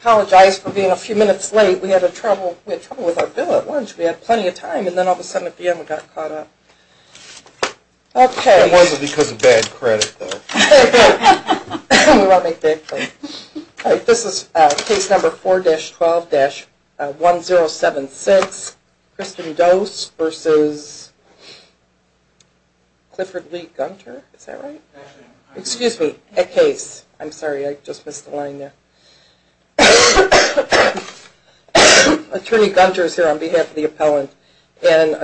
Apologize for being a few minutes late. We had trouble with our bill at lunch. We had plenty of time and then all of a sudden at the end we got caught up. It wasn't because of bad credit though. We won't make bad credit. This is case number 4-12-1076, Kristen Dohse v. Clifford Lee Gunter. Excuse me, Ekhaese. I'm sorry, I just missed the line there. Attorney Gunter is here on behalf of the appellant. My name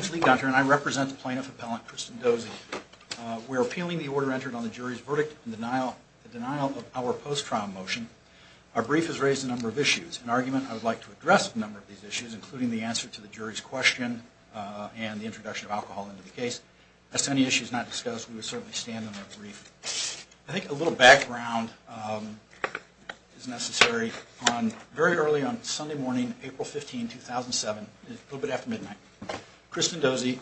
is Lee Gunter and I represent the plaintiff appellant Kristen Dohse. We're appealing the order entered on the jury's verdict in denial of our post-trial motion. Our brief has raised a number of issues. In argument, I would like to address a number of these issues, including the answer to the jury's question and the introduction of alcohol into the case. As to any issues not discussed, we would certainly stand on our brief. I think a little background is necessary. Very early on Sunday morning, April 15, 2007, a little bit after midnight, Kristen Dohse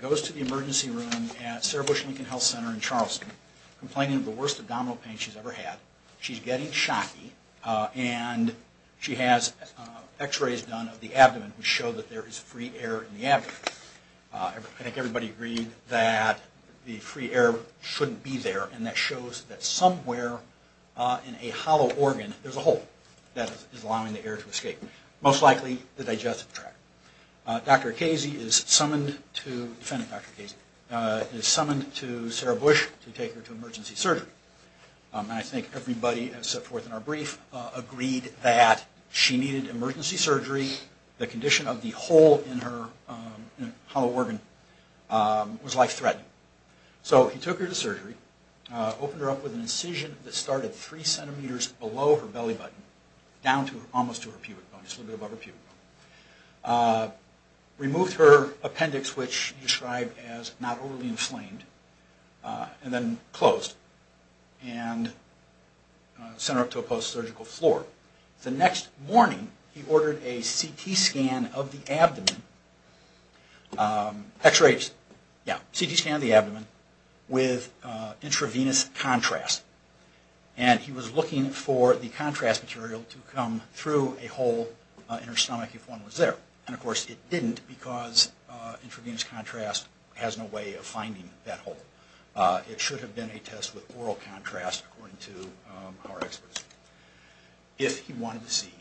goes to the emergency room at Sarah Bush Lincoln Health Center in Charleston, complaining of the worst abdominal pain she's ever had. She's getting shocky and she has x-rays done of the abdomen to show that there is free air in the abdomen. I think everybody agreed that the free air shouldn't be there and that shows that somewhere in a hollow organ there's a hole that is allowing the air to escape, most likely the digestive tract. Defendant Dr. Casey is summoned to Sarah Bush to take her to emergency surgery. I think everybody has set forth in our brief agreed that she needed emergency surgery. The condition of the hole in her hollow organ was life-threatening. So he took her to surgery, opened her up with an incision that started three centimeters below her belly button, down almost to her pubic bone, just a little bit above her pubic bone. Removed her appendix, which he described as not overly inflamed, and then closed and sent her up to a post-surgical floor. The next morning, he ordered a CT scan of the abdomen with intravenous contrast. And he was looking for the contrast material to come through a hole in her stomach if one was there. And, of course, it didn't because intravenous contrast has no way of finding that hole. It should have been a test with oral contrast, according to our experts. If he wanted to see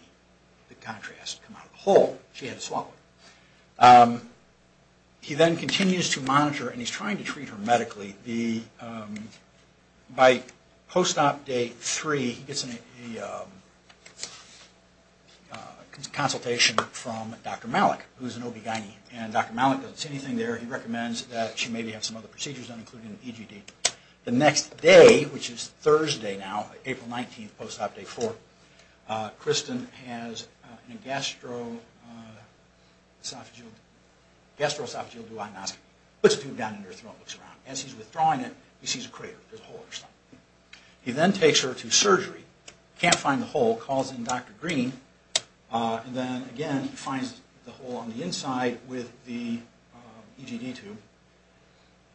the contrast come out of the hole, she had to swallow it. He then continues to monitor, and he's trying to treat her medically. By post-op day three, he gets a consultation from Dr. Malik, who's an OB-GYN. And Dr. Malik doesn't see anything there. He recommends that she maybe have some other procedures done, including an EGD. The next day, which is Thursday now, April 19, post-op day four, Kristen has a gastroesophageal duodenoscopy. He puts a tube down in her throat and looks around. As he's withdrawing it, he sees a crater. There's a hole in her stomach. He then takes her to surgery. He can't find the hole. He calls in Dr. Green, and then, again, he finds the hole on the inside with the EGD tube.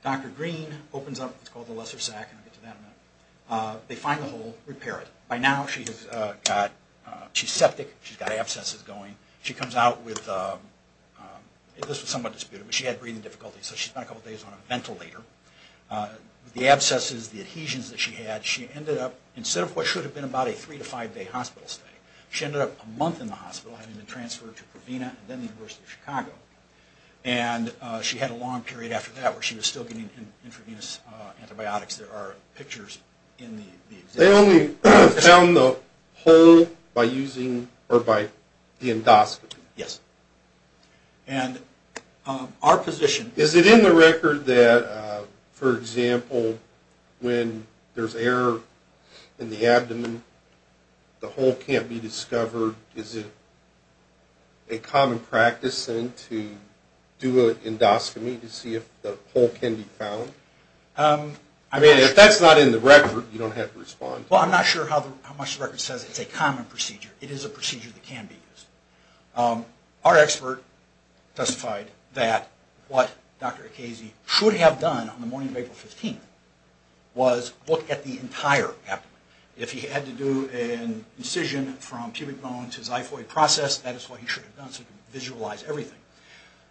Dr. Green opens up what's called the lesser sac, and I'll get to that in a minute. They find the hole, repair it. By now, she's septic. She's got abscesses going. She comes out with, this was somewhat disputed, but she had breathing difficulties. So she spent a couple days on a ventilator. The abscesses, the adhesions that she had, she ended up, instead of what should have been about a three- to five-day hospital stay, she ended up a month in the hospital, having been transferred to Provena and then the University of Chicago. And she had a long period after that where she was still getting intravenous antibiotics. There are pictures in the exhibit. They only found the hole by using, or by the endoscopy. Yes. And our position- Is it in the record that, for example, when there's air in the abdomen, the hole can't be discovered? Or is it a common practice then to do an endoscopy to see if the hole can be found? I mean, if that's not in the record, you don't have to respond. Well, I'm not sure how much the record says it's a common procedure. It is a procedure that can be used. Our expert testified that what Dr. Akazi should have done on the morning of April 15th was look at the entire abdomen. If he had to do an incision from pubic bone to xiphoid process, that is what he should have done so he could visualize everything.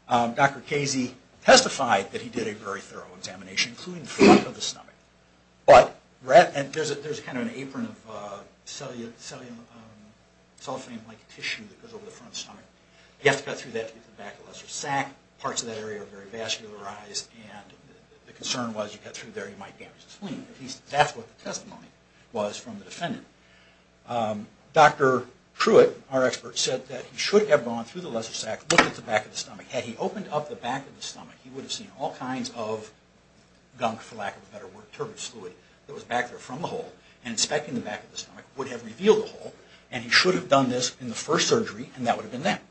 Dr. Akazi testified that he did a very thorough examination, including the front of the stomach. There's kind of an apron of cellophane-like tissue that goes over the front of the stomach. You have to cut through that to get to the back of the sac. Parts of that area are very vascularized, and the concern was you cut through there, you might damage the spleen. At least that's what the testimony was from the defendant. Dr. Pruitt, our expert, said that he should have gone through the lesser sac, looked at the back of the stomach. Had he opened up the back of the stomach, he would have seen all kinds of gunk, for lack of a better word, turbid fluid that was back there from the hole, and inspecting the back of the stomach would have revealed the hole. And he should have done this in the first surgery, and that would have been that.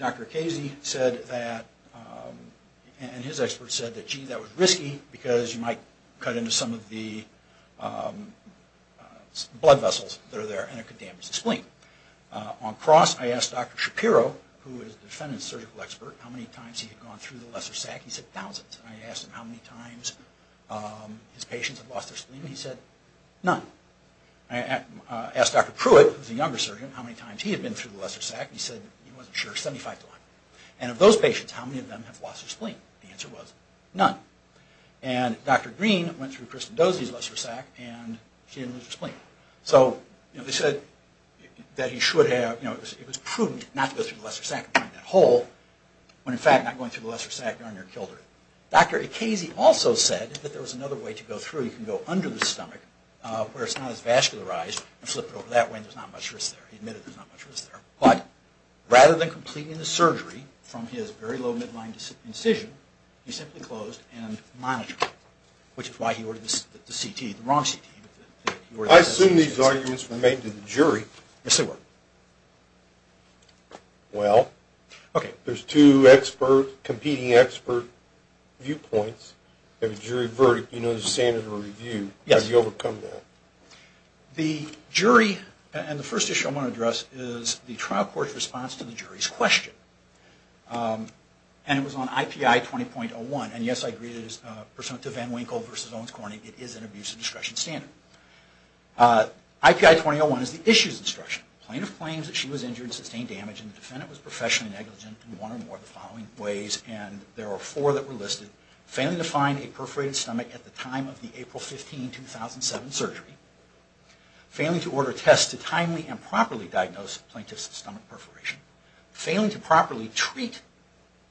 Dr. Akazi said that, and his expert said that, gee, that was risky, because you might cut into some of the blood vessels that are there, and it could damage the spleen. On cross, I asked Dr. Shapiro, who is the defendant's surgical expert, how many times he had gone through the lesser sac. He said thousands. I asked him how many times his patients had lost their spleen. He said none. I asked Dr. Pruitt, who is the younger surgeon, how many times he had been through the lesser sac. He said he wasn't sure. Seventy-five to one. And of those patients, how many of them have lost their spleen? The answer was none. And Dr. Green went through Kristen Dosey's lesser sac, and she didn't lose her spleen. So, you know, they said that he should have, you know, it was prudent not to go through the lesser sac and find that hole, when, in fact, not going through the lesser sac, darn near killed her. Dr. Akazi also said that there was another way to go through. You can go under the stomach, where it's not as vascularized, and flip it over that way, and there's not much risk there. He admitted there's not much risk there. But rather than completing the surgery from his very low midline incision, he simply closed and monitored, which is why he ordered the CT, the wrong CT. I assume these arguments were made to the jury. Yes, they were. Well, there's two expert, competing expert viewpoints. You have a jury verdict. You know there's a standard of review. Yes. How do you overcome that? The jury, and the first issue I want to address is the trial court's response to the jury's question. And it was on IPI 20.01. And yes, I agree that it is pursuant to Van Winkle v. Owens Corning, it is an abuse of discretion standard. IPI 20.01 is the issue's instruction. Plaintiff claims that she was injured and sustained damage, and the defendant was professionally negligent in one or more of the following ways, and there are four that were listed. Failing to find a perforated stomach at the time of the April 15, 2007, surgery. Failing to order tests to timely and properly diagnose plaintiff's stomach perforation. Failing to properly treat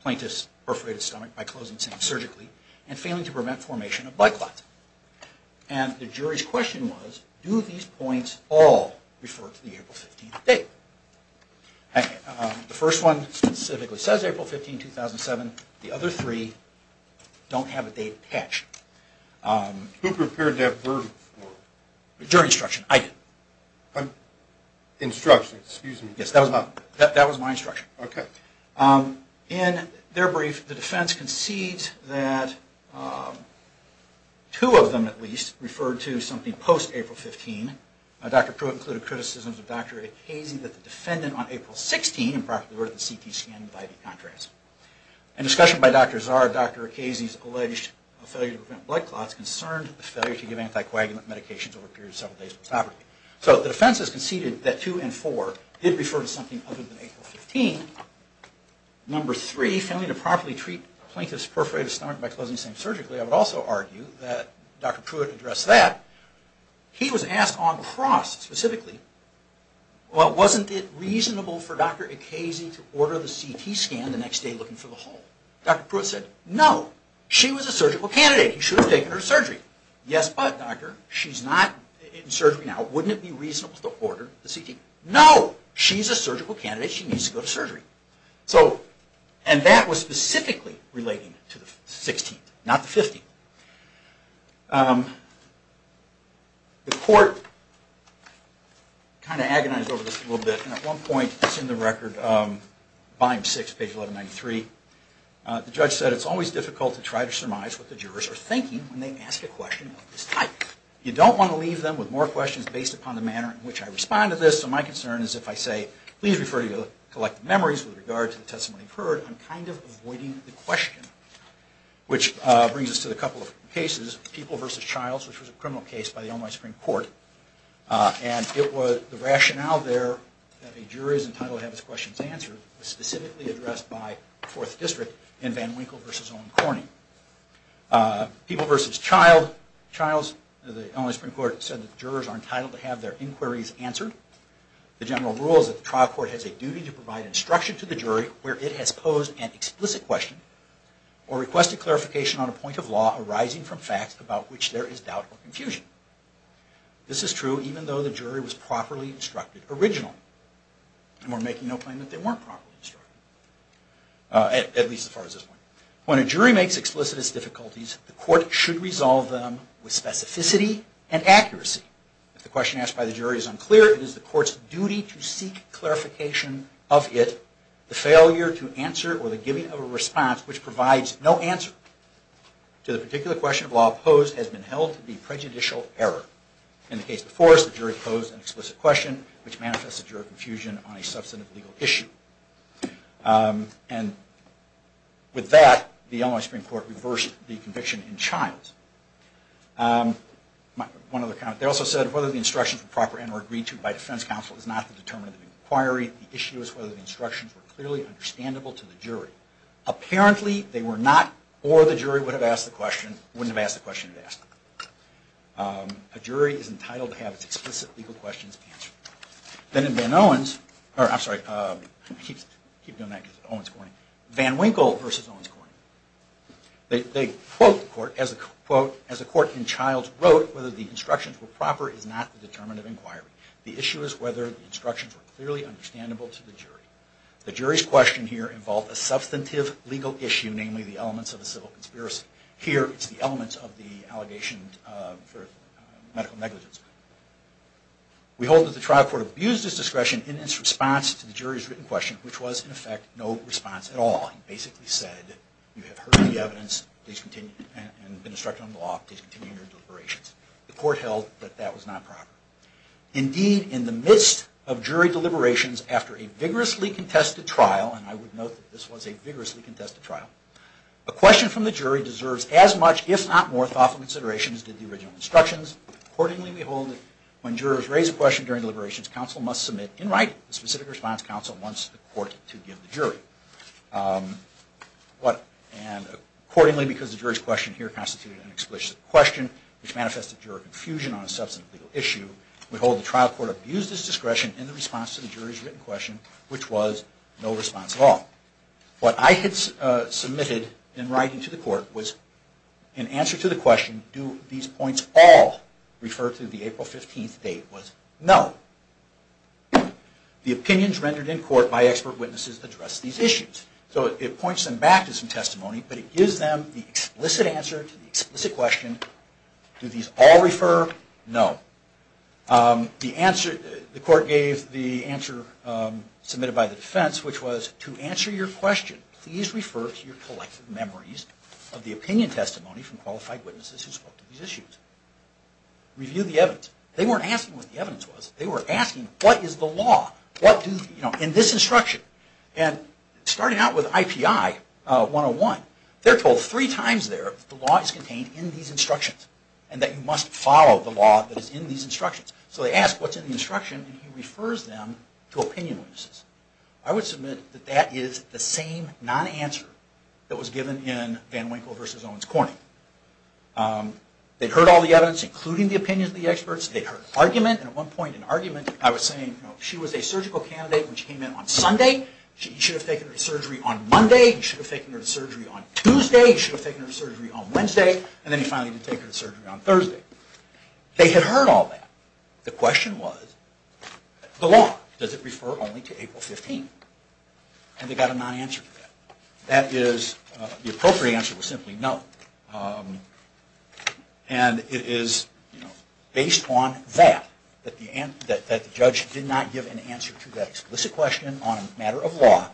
plaintiff's perforated stomach by closing seams surgically. And failing to prevent formation of blood clots. And the jury's question was, do these points all refer to the April 15th date? The first one specifically says April 15, 2007. The other three don't have a date attached. Who prepared that version for us? The jury's instruction, I did. Instruction, excuse me. Yes, that was my instruction. Okay. In their brief, the defense concedes that two of them, at least, referred to something post-April 15. Dr. Pruitt included criticisms of Dr. Hayes that the defendant on April 16 improperly ordered the CT scan and the IV contrast. In discussion by Dr. Zahr, Dr. Hayes' alleged failure to prevent blood clots concerned the failure to give anticoagulant medications over a period of several days. So the defense has conceded that two and four did refer to something other than April 15. Number three, failing to properly treat plaintiff's perforated stomach by closing seams surgically. I would also argue that Dr. Pruitt addressed that. He was asked on cross, specifically, well, wasn't it reasonable for Dr. Ekesi to order the CT scan the next day looking for the hole? Dr. Pruitt said, no. She was a surgical candidate. She should have taken her surgery. Yes, but, doctor, she's not in surgery now. Wouldn't it be reasonable to order the CT? No. She's a surgical candidate. She needs to go to surgery. And that was specifically relating to the 16th, not the 15th. The court kind of agonized over this a little bit. And at one point, it's in the record, volume six, page 1193. The judge said, it's always difficult to try to surmise what the jurors are thinking when they ask a question of this type. You don't want to leave them with more questions based upon the manner in which I respond to this. So my concern is if I say, please refer to your collective memories with regard to the testimony you've heard, I'm kind of avoiding the question, which brings us to the couple of cases, People v. Childs, which was a criminal case by the Illinois Supreme Court. And the rationale there that a juror is entitled to have his questions answered was specifically addressed by the Fourth District in Van Winkle v. Owen Corning. People v. Childs, the Illinois Supreme Court said that jurors are entitled to have their inquiries answered. The general rule is that the trial court has a duty to provide instruction to the jury where it has posed an explicit question or request a clarification on a point of law arising from facts about which there is doubt or confusion. This is true even though the jury was properly instructed originally. And we're making no claim that they weren't properly instructed, at least as far as this point. When a jury makes explicit its difficulties, the court should resolve them with specificity and accuracy. If the question asked by the jury is unclear, it is the court's duty to seek clarification of it. Therefore, the failure to answer or the giving of a response which provides no answer to the particular question of law posed has been held to be prejudicial error. In the case of Forrest, the jury posed an explicit question which manifested juror confusion on a substantive legal issue. And with that, the Illinois Supreme Court reversed the conviction in Childs. They also said whether the instructions were proper and were agreed to by defense counsel is not the determinant of inquiry. The issue is whether the instructions were clearly understandable to the jury. Apparently, they were not, or the jury would have asked the question, wouldn't have asked the question if asked. A jury is entitled to have its explicit legal questions answered. Then in Van Owens, or I'm sorry, keep doing that because it's Owens Corning, Van Winkle versus Owens Corning. They quote the court as a quote, as a court in Childs wrote, whether the instructions were proper is not the determinant of inquiry. The issue is whether the instructions were clearly understandable to the jury. The jury's question here involved a substantive legal issue, namely the elements of a civil conspiracy. Here, it's the elements of the allegation for medical negligence. We hold that the trial court abused its discretion in its response to the jury's written question, which was in effect no response at all. It basically said you have heard the evidence and been instructed on the law to continue your deliberations. The court held that that was not proper. Indeed, in the midst of jury deliberations after a vigorously contested trial, and I would note that this was a vigorously contested trial, a question from the jury deserves as much, if not more, thoughtful consideration as did the original instructions. Accordingly, we hold that when jurors raise a question during deliberations, counsel must submit in writing. The specific response counsel wants the court to give the jury. Accordingly, because the jury's question here constituted an explicit question, which manifested juror confusion on a substantive legal issue, we hold the trial court abused its discretion in the response to the jury's written question, which was no response at all. What I had submitted in writing to the court was in answer to the question, do these points all refer to the April 15th date, was no. The opinions rendered in court by expert witnesses address these issues. So it points them back to some testimony, but it gives them the explicit answer to the explicit question, do these all refer? No. The court gave the answer submitted by the defense, which was to answer your question, please refer to your collective memories of the opinion testimony from qualified witnesses who spoke to these issues. Review the evidence. They weren't asking what the evidence was. They were asking what is the law in this instruction. And starting out with IPI 101, they're told three times there that the law is contained in these instructions and that you must follow the law that is in these instructions. So they ask what's in the instruction, and he refers them to opinion witnesses. I would submit that that is the same non-answer that was given in Van Winkle v. Owens Corning. They heard all the evidence, including the opinions of the experts. They heard argument. And at one point in argument, I was saying she was a surgical candidate when she came in on Sunday. You should have taken her to surgery on Monday. You should have taken her to surgery on Tuesday. You should have taken her to surgery on Wednesday. And then you finally did take her to surgery on Thursday. They had heard all that. The question was, the law, does it refer only to April 15th? And they got a non-answer to that. The appropriate answer was simply no. And it is based on that, that the judge did not give an answer to that explicit question on a matter of law,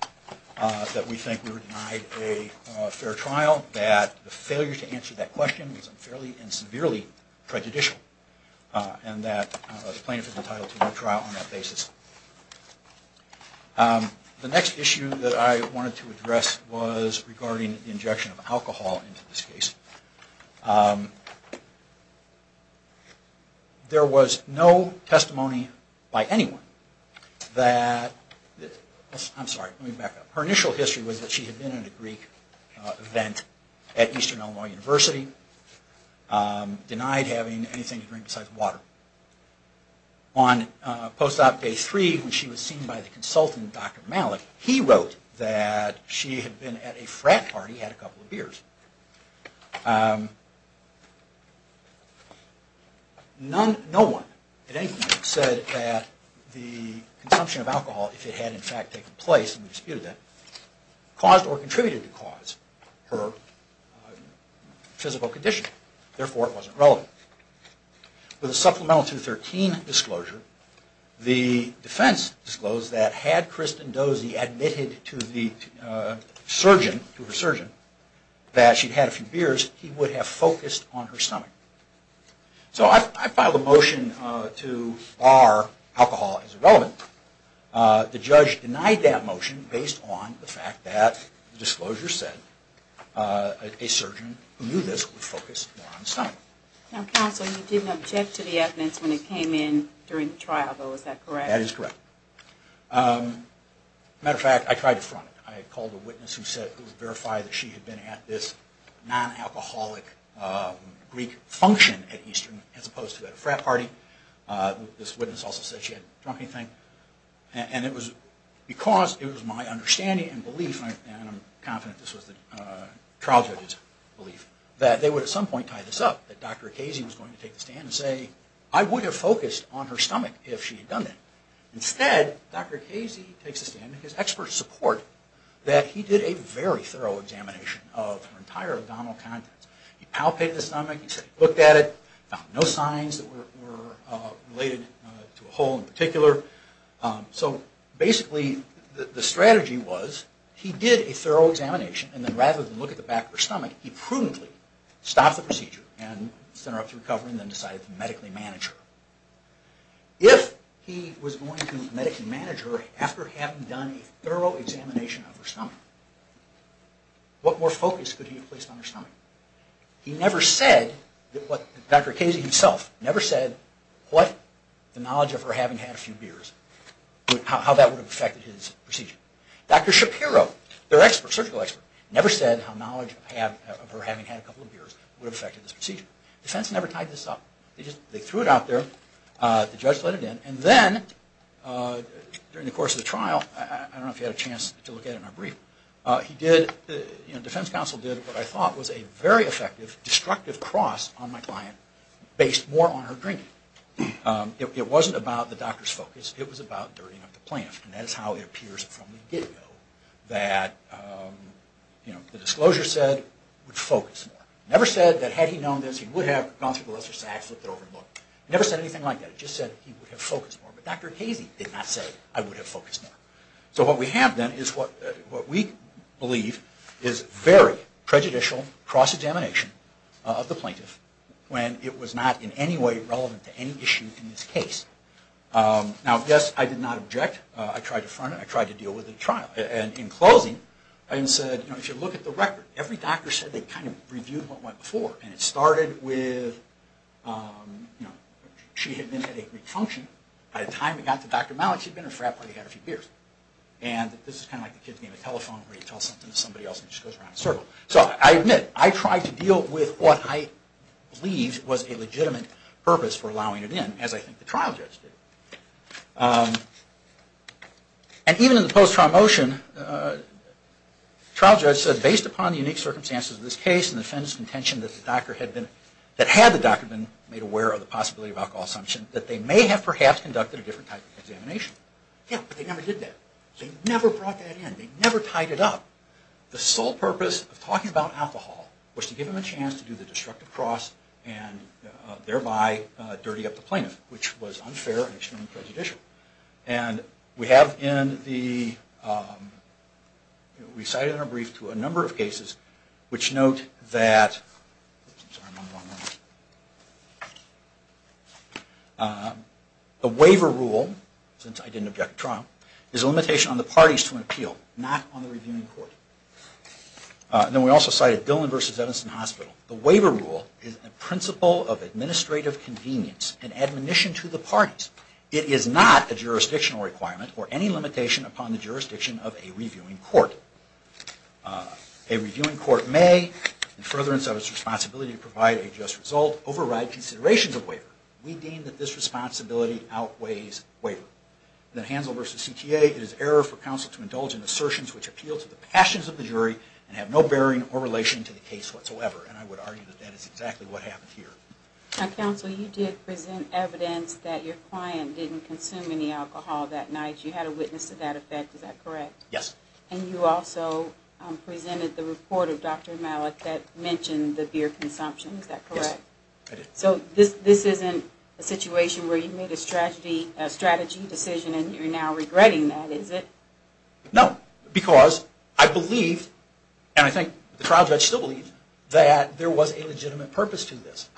that we think we were denied a fair trial, that the failure to answer that question was unfairly and severely prejudicial, and that the plaintiff is entitled to no trial on that basis. The next issue that I wanted to address was regarding the injection of alcohol into this case. There was no testimony by anyone that, I'm sorry, let me back up. Her initial history was that she had been in a Greek event at Eastern Illinois University, denied having anything to drink besides water. On post-op day three, when she was seen by the consultant, Dr. Malik, he wrote that she had been at a frat party, had a couple of beers. No one at any point said that the consumption of alcohol, if it had in fact taken place, and we disputed that, caused or contributed to cause her physical condition. Therefore, it wasn't relevant. With a Supplemental 213 disclosure, the defense disclosed that had Kristen Dozie admitted to the surgeon, to her surgeon, that she had a few beers, he would have focused on her stomach. So I filed a motion to bar alcohol as irrelevant. The judge denied that motion based on the fact that the disclosure said that a surgeon who knew this would focus more on the stomach. Counsel, you didn't object to the evidence when it came in during the trial, though, is that correct? That is correct. As a matter of fact, I tried to front it. I called a witness who said it was verified that she had been at this non-alcoholic Greek function at Eastern as opposed to at a frat party. This witness also said she hadn't drunk anything. And it was because it was my understanding and belief, and I'm confident this was the trial judge's belief, that they would at some point tie this up. That Dr. Casey was going to take the stand and say, I would have focused on her stomach if she had done that. Instead, Dr. Casey takes the stand with his expert support that he did a very thorough examination of her entire abdominal contents. He palpated the stomach, he looked at it, found no signs that were related to a hole in particular. So basically, the strategy was he did a thorough examination, and then rather than look at the back of her stomach, he prudently stopped the procedure and set her up to recover and then decided to medically manage her. If he was going to medically manage her after having done a thorough examination of her stomach, what more focus could he have placed on her stomach? He never said, Dr. Casey himself never said, what the knowledge of her having had a few beers, how that would have affected his procedure. Dr. Shapiro, their surgical expert, never said how knowledge of her having had a couple of beers would have affected this procedure. Defense never tied this up. They threw it out there, the judge let it in, and then during the course of the trial, I don't know if you had a chance to look at it in our brief, Defense counsel did what I thought was a very effective destructive cross on my client based more on her drinking. It wasn't about the doctor's focus. It was about dirtying up the plant, and that is how it appears from the get-go that the disclosure said would focus more. It never said that had he known this, he would have gone through the list of facts, looked it over, and looked. It never said anything like that. It just said he would have focused more. But Dr. Casey did not say, I would have focused more. So what we have then is what we believe is very prejudicial cross-examination of the plaintiff when it was not in any way relevant to any issue in this case. Now, yes, I did not object. I tried to front it. I tried to deal with the trial. And in closing, I said, if you look at the record, every doctor said they kind of reviewed what went before, and it started with she had been at a Greek function. By the time it got to Dr. Malik, she had been at a frat party and had a few beers. And this is kind of like the kid's name at telephone where you tell something to somebody else and it just goes around in a circle. So I admit, I tried to deal with what I believed was a legitimate purpose for allowing it in, as I think the trial judge did. And even in the post-trial motion, the trial judge said, based upon the unique circumstances of this case and the defendant's contention that the doctor had been, that had the doctor been made aware of the possibility of alcohol assumption, that they may have perhaps conducted a different type of examination. Yeah, but they never did that. They never brought that in. They never tied it up. The sole purpose of talking about alcohol was to give them a chance to do the destructive cross and thereby dirty up the plaintiff, which was unfair and extremely prejudicial. And we have in the, we cited in our brief to a number of cases which note that the waiver rule, since I didn't object to trial, is a limitation on the parties to an appeal, not on the reviewing court. Then we also cited Dillon v. Evanston Hospital. The waiver rule is a principle of administrative convenience and admonition to the parties. It is not a jurisdictional requirement or any limitation upon the jurisdiction of a reviewing court. A reviewing court may, in furtherance of its responsibility to provide a just result, override considerations of waiver. We deem that this responsibility outweighs waiver. Then Hansel v. CTA, it is error for counsel to indulge in assertions which appeal to the passions of the jury and have no bearing or relation to the case whatsoever. And I would argue that that is exactly what happened here. Now, counsel, you did present evidence that your client didn't consume any alcohol that night. You had a witness to that effect. Is that correct? Yes. And you also presented the report of Dr. Malik that mentioned the beer consumption. Is that correct? Yes, I did. So this isn't a situation where you made a strategy decision and you're now regretting that, is it? No, because I believed, and I think the trial judge still believes, that there was a legitimate purpose to this.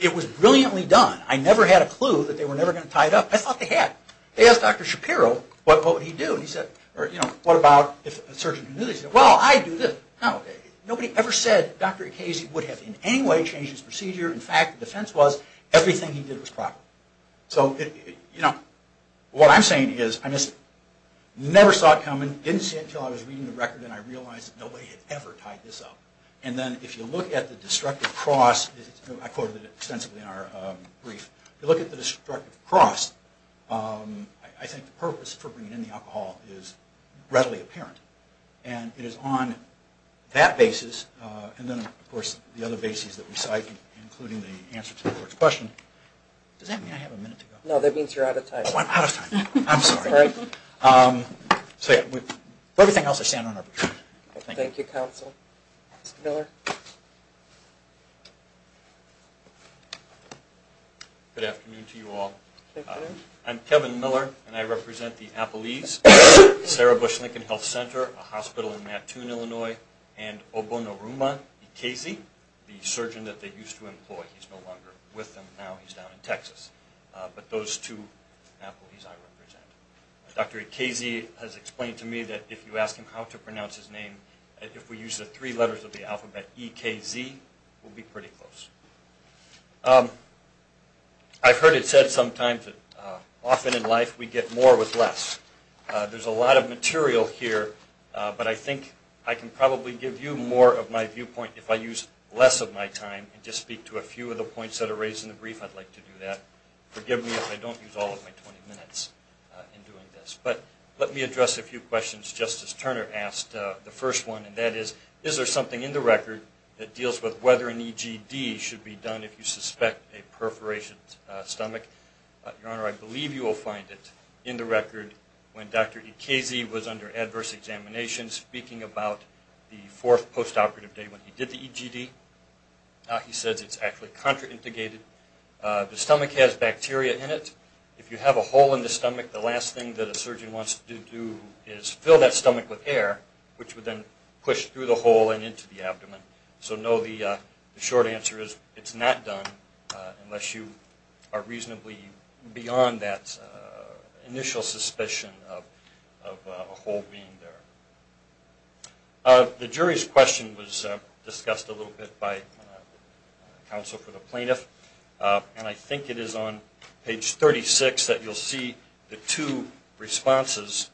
It was brilliantly done. I never had a clue that they were never going to tie it up. I thought they had. They asked Dr. Shapiro what would he do. And he said, what about if a surgeon who knew this said, well, I do this. Nobody ever said Dr. Ekesi would have in any way changed his procedure. In fact, the defense was everything he did was proper. So what I'm saying is I never saw it coming, didn't see it until I was reading the record, and I realized that nobody had ever tied this up. And then if you look at the destructive cross, I quoted it extensively in our brief, if you look at the destructive cross, I think the purpose for bringing in the alcohol is readily apparent. And it is on that basis, and then, of course, the other bases that we cite, including the answer to the court's question. Does that mean I have a minute to go? No, that means you're out of time. Oh, I'm out of time. I'm sorry. For everything else, I stand on arbitration. Thank you, counsel. Mr. Miller. Good afternoon to you all. Good afternoon. I'm Kevin Miller, and I represent the Appleese, Sarah Bush Lincoln Health Center, a hospital in Mattoon, Illinois, and Obonoruma Ekesi, the surgeon that they used to employ. He's no longer with them now. He's down in Texas. But those two Appleese I represent. Dr. Ekesi has explained to me if we use the three letters of the alphabet, he'll say, E-K-Z. We'll be pretty close. I've heard it said sometimes that often in life we get more with less. There's a lot of material here, but I think I can probably give you more of my viewpoint if I use less of my time and just speak to a few of the points that are raised in the brief. I'd like to do that. Forgive me if I don't use all of my 20 minutes in doing this. But let me address a few questions Justice Turner asked, the first one, and that is, is there something in the record that deals with whether an EGD should be done if you suspect a perforated stomach? Your Honor, I believe you will find it in the record when Dr. Ekesi was under adverse examination speaking about the fourth postoperative day when he did the EGD. He says it's actually contraindicated. The stomach has bacteria in it. If you have a hole in the stomach, the last thing that a surgeon wants to do is fill that stomach with air, which would then push through the hole and into the abdomen. So no, the short answer is it's not done unless you are reasonably beyond that initial suspicion of a hole being there. The jury's question was discussed a little bit by counsel for the plaintiff, and I think it is on page 36 that you'll see the two responses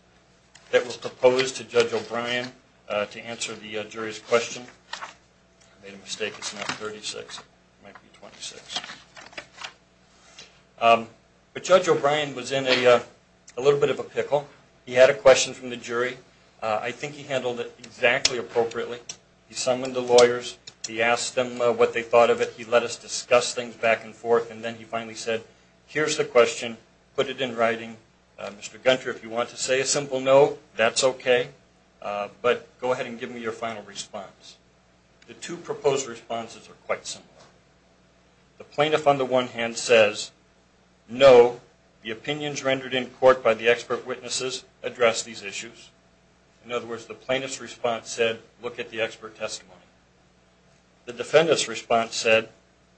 that were proposed to Judge O'Brien to answer the jury's question. I made a mistake, it's not 36. It might be 26. But Judge O'Brien was in a little bit of a pickle. He had a question from the jury. I think he handled it exactly appropriately. He summoned the lawyers. He asked them what they thought of it. He let us discuss things back and forth, and then he finally said, here's the question, put it in writing. Mr. Gunter, if you want to say a simple no, that's okay. But go ahead and give me your final response. The two proposed responses are quite similar. The plaintiff on the one hand says, no, the opinions rendered in court by the expert witnesses address these issues. In other words, the plaintiff's response said, look at the expert testimony. The defendant's response said,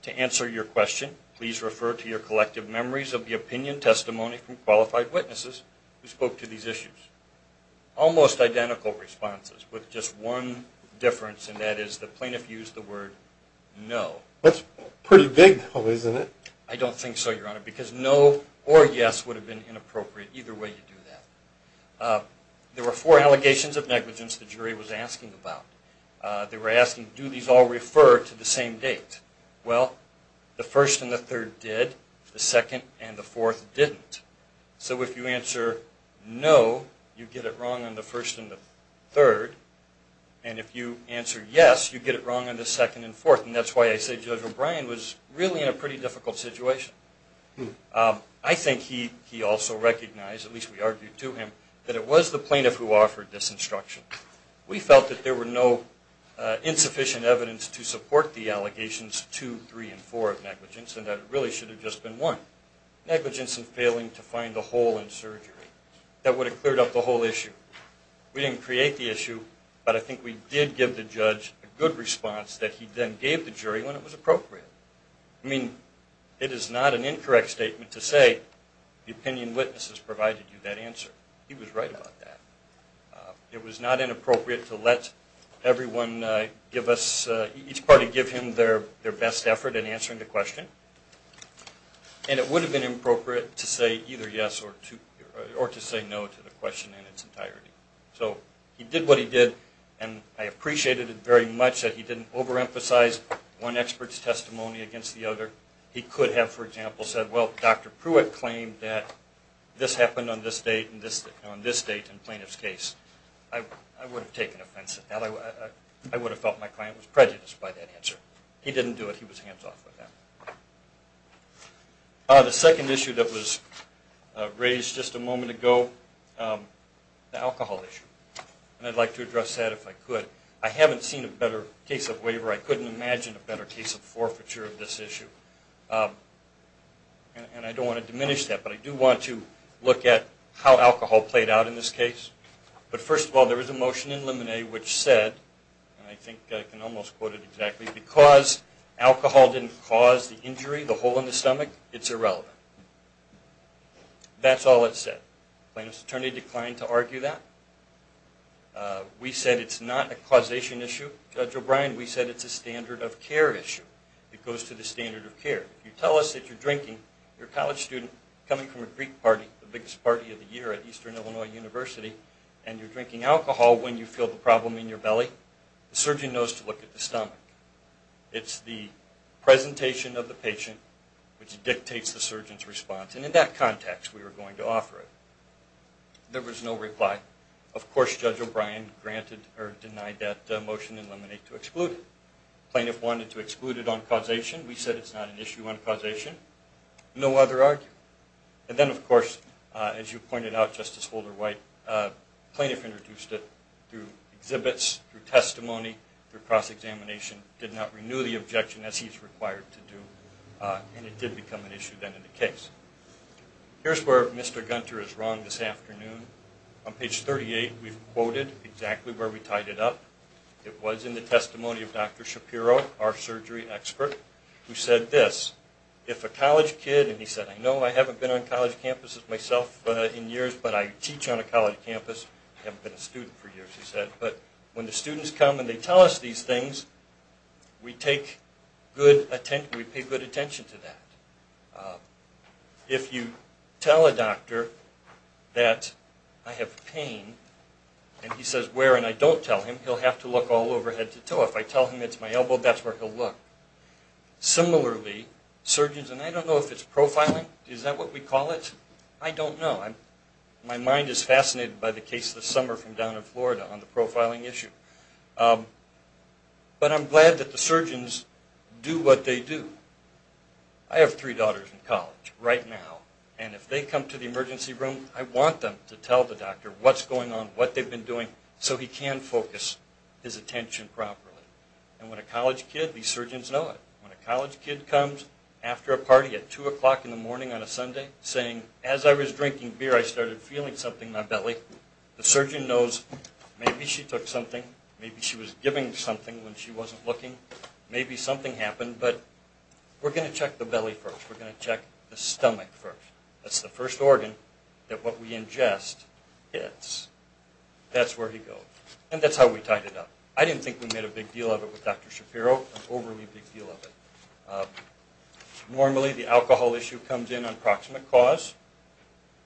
to answer your question, please refer to your collective memories of the opinion testimony from qualified witnesses who spoke to these issues. Almost identical responses, with just one difference, and that is the plaintiff used the word no. That's pretty big, though, isn't it? I don't think so, Your Honor, because no or yes would have been inappropriate. Either way you do that. There were four allegations of negligence the jury was asking about. They were asking, do these all refer to the same date? Well, the first and the third did. The second and the fourth didn't. So if you answer no, you get it wrong on the first and the third. And if you answer yes, you get it wrong on the second and fourth. And that's why I say Judge O'Brien was really in a pretty difficult situation. I think he also recognized, at least we argued to him, that it was the plaintiff who offered this instruction. We felt that there were no insufficient evidence to support the allegations two, three, and four of negligence, and that it really should have just been one. Negligence in failing to find the hole in surgery. That would have cleared up the whole issue. We didn't create the issue, but I think we did give the judge a good response that he then gave the jury when it was appropriate. I mean, it is not an incorrect statement to say the opinion witnesses provided you that answer. He was right about that. It was not inappropriate to let everyone give us, each party give him their best effort in answering the question. And it would have been inappropriate to say either yes or to say no to the question in its entirety. So he did what he did, and I appreciated it very much that he didn't overemphasize one expert's testimony against the other. He could have, for example, said, well, Dr. Pruitt claimed that this happened on this date and on this date in the plaintiff's case. I would have taken offense at that. I would have felt my client was prejudiced by that answer. He didn't do it. He was hands off by that. The second issue that was raised just a moment ago, the alcohol issue. And I'd like to address that if I could. I haven't seen a better case of waiver. I couldn't imagine a better case of forfeiture of this issue. And I don't want to diminish that, but I do want to look at how alcohol played out in this case. But first of all, there was a motion in Lemonet which said, and I think I can almost quote it exactly, because alcohol didn't cause the injury, the hole in the stomach, it's irrelevant. That's all it said. The plaintiff's attorney declined to argue that. We said it's not a causation issue. Judge O'Brien, we said it's a standard of care issue. It goes to the standard of care. If you tell us that you're drinking, you're a college student coming from a Greek party, the biggest party of the year at Eastern Illinois University, and you're drinking alcohol when you feel the problem in your belly, the surgeon knows to look at the stomach. It's the presentation of the patient which dictates the surgeon's response. And in that context, we were going to offer it. There was no reply. Of course, Judge O'Brien denied that motion in Lemonet to exclude it. The plaintiff wanted to exclude it on causation. We said it's not an issue on causation. No other argument. And then, of course, as you pointed out, Justice Holder-White, the plaintiff introduced it through exhibits, through testimony, through cross-examination, did not renew the objection as he's required to do, and it did become an issue then in the case. Here's where Mr. Gunter is wrong this afternoon. On page 38, we've quoted exactly where we tied it up. It was in the testimony of Dr. Shapiro, our surgery expert, who said this, if a college kid, and he said, I know I haven't been on college campuses myself in years, but I teach on a college campus. I haven't been a student for years, he said. But when the students come and they tell us these things, we pay good attention to that. If you tell a doctor that I have pain and he says where and I don't tell him, he'll have to look all over head to toe. If I tell him it's my elbow, that's where he'll look. Similarly, surgeons, and I don't know if it's profiling. Is that what we call it? I don't know. My mind is fascinated by the case this summer from down in Florida on the profiling issue. But I'm glad that the surgeons do what they do. I have three daughters in college right now, and if they come to the emergency room, I want them to tell the doctor what's going on, what they've been doing, so he can focus his attention properly. And when a college kid, these surgeons know it, when a college kid comes after a party at 2 o'clock in the morning on a Sunday saying, as I was drinking beer I started feeling something in my belly, the surgeon knows maybe she took something, maybe she was giving something when she wasn't looking, maybe something happened, but we're going to check the belly first. We're going to check the stomach first. That's the first organ that what we ingest hits. That's where he goes. And that's how we tied it up. I didn't think we made a big deal of it with Dr. Shapiro, an overly big deal of it. Normally the alcohol issue comes in on proximate cause.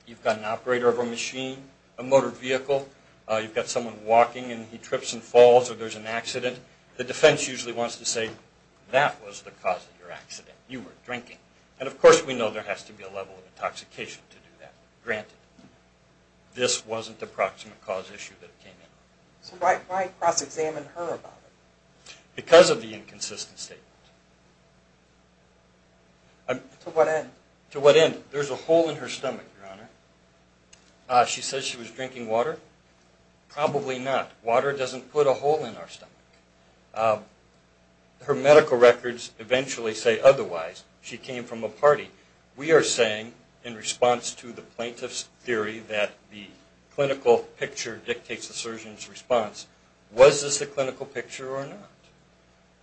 You've got an operator of a machine, a motor vehicle. You've got someone walking and he trips and falls or there's an accident. The defense usually wants to say, that was the cause of your accident. You were drinking. And, of course, we know there has to be a level of intoxication to do that. Granted, this wasn't a proximate cause issue that came in. So why cross-examine her about it? Because of the inconsistent statement. To what end? To what end? There's a hole in her stomach, Your Honor. She says she was drinking water. Probably not. Water doesn't put a hole in our stomach. Her medical records eventually say otherwise. She came from a party. We are saying, in response to the plaintiff's theory that the clinical picture dictates the surgeon's response, was this the clinical picture or not?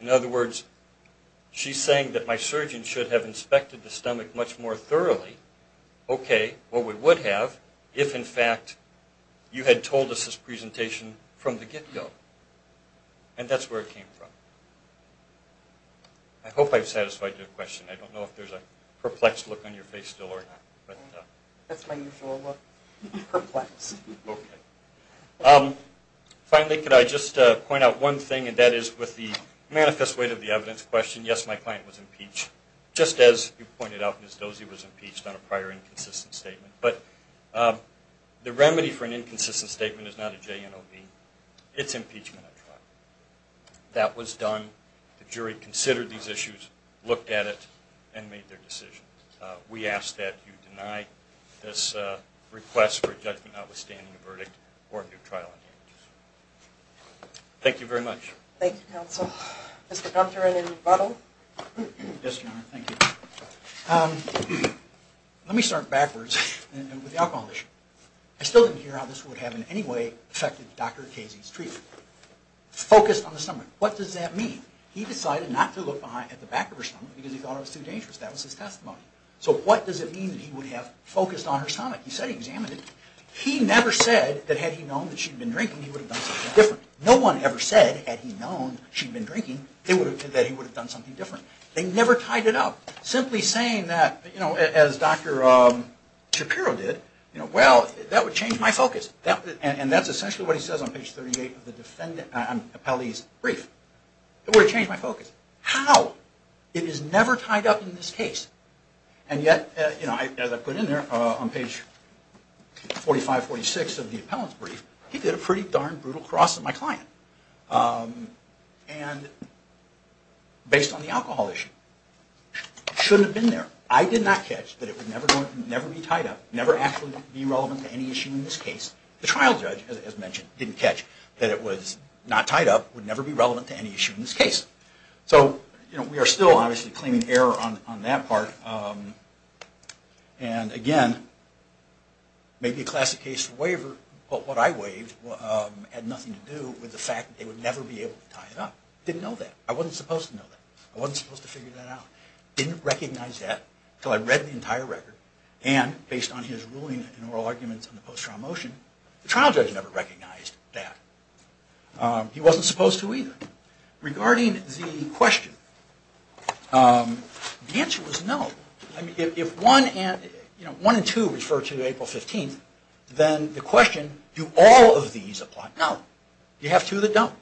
In other words, she's saying that my surgeon should have inspected the stomach much more thoroughly. Okay. Well, we would have if, in fact, you had told us this presentation from the get-go. And that's where it came from. I hope I've satisfied your question. I don't know if there's a perplexed look on your face still or not. That's my usual look. Perplexed. Okay. Finally, could I just point out one thing, and that is with the manifest weight of the evidence question, yes, my client was impeached. Just as you pointed out, Ms. Dozie was impeached on a prior inconsistent statement. But the remedy for an inconsistent statement is not a JNOB. It's impeachment, I tried. That was done. The jury considered these issues, looked at it, and made their decision. We ask that you deny this request for a judgment notwithstanding the verdict or new trial engagements. Thank you very much. Thank you, counsel. Mr. Gunther and then Buttle. Yes, Your Honor. Thank you. Let me start backwards with the alcohol issue. I still didn't hear how this would have in any way affected Dr. Casey's treatment. Focused on the stomach. What does that mean? He decided not to look at the back of her stomach because he thought it was too dangerous. That was his testimony. So what does it mean that he would have focused on her stomach? He said he examined it. He never said that had he known that she'd been drinking, he would have done something different. No one ever said, had he known she'd been drinking, that he would have done something different. They never tied it up. Simply saying that, as Dr. Shapiro did, well, that would change my focus. And that's essentially what he says on page 38 of the appellee's brief. It would have changed my focus. How? It is never tied up in this case. And yet, as I put in there on page 45, 46 of the appellant's brief, he did a pretty darn brutal cross at my client. And based on the alcohol issue, it shouldn't have been there. I did not catch that it would never be tied up, never actually be relevant to any issue in this case. The trial judge, as mentioned, didn't catch that it was not tied up, would never be relevant to any issue in this case. So we are still, obviously, claiming error on that part. And again, maybe a classic case for waiver. But what I waived had nothing to do with the fact that they would never be able to tie it up. Didn't know that. I wasn't supposed to know that. I wasn't supposed to figure that out. Didn't recognize that until I read the entire record. And based on his ruling and oral arguments on the post-trial motion, the trial judge never recognized that. He wasn't supposed to either. Regarding the question, the answer was no. If 1 and 2 refer to April 15th, then the question, do all of these apply? No. You have two that don't.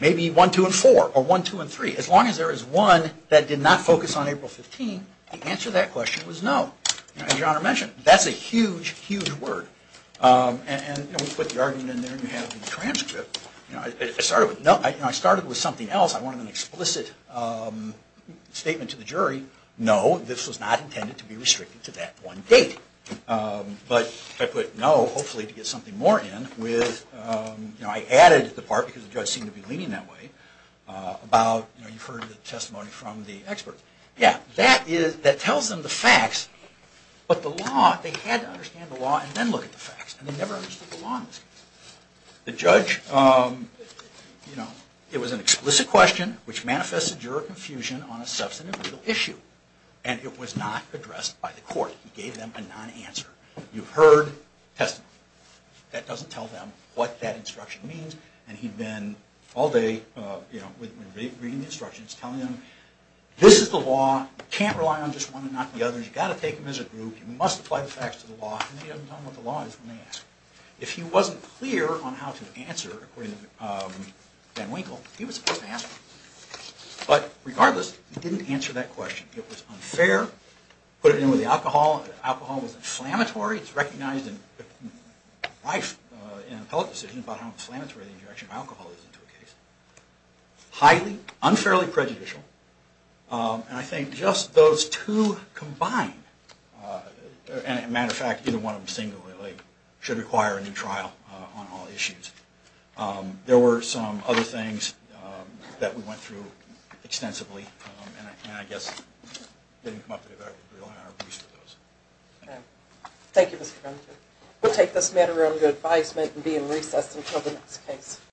Maybe 1, 2, and 4. Or 1, 2, and 3. As long as there is one that did not focus on April 15th, the answer to that question was no. As your Honor mentioned, that's a huge, huge word. And we put the argument in there, and you have it in the transcript. I started with no. I started with something else. I wanted an explicit statement to the jury. No, this was not intended to be restricted to that one date. But I put no, hopefully, to get something more in. I added the part, because the judge seemed to be leaning that way, about you've heard the testimony from the experts. Yeah, that tells them the facts. But the law, they had to understand the law and then look at the facts. And they never understood the law in this case. The judge, it was an explicit question, which manifested juror confusion on a substantive legal issue. And it was not addressed by the court. He gave them a non-answer. You heard testimony. That doesn't tell them what that instruction means. And he'd been all day reading the instructions, telling them, this is the law. You can't rely on just one and not the other. You've got to take them as a group. You must apply the facts to the law. And they haven't done what the law is when they ask. If he wasn't clear on how to answer, according to Van Winkle, he was supposed to ask. But regardless, he didn't answer that question. It was unfair. Put it in with the alcohol. The alcohol was inflammatory. It's recognized in life in an appellate decision about how inflammatory the injection of alcohol is into a case. Highly, unfairly prejudicial. And I think just those two combined, and as a matter of fact, either one of them singularly, should require a new trial on all issues. There were some other things that we went through extensively. And I guess it didn't come up that we relied on our police for those. Thank you, Mr. Frenter. We'll take this matter under advisement and be in recess until the next case.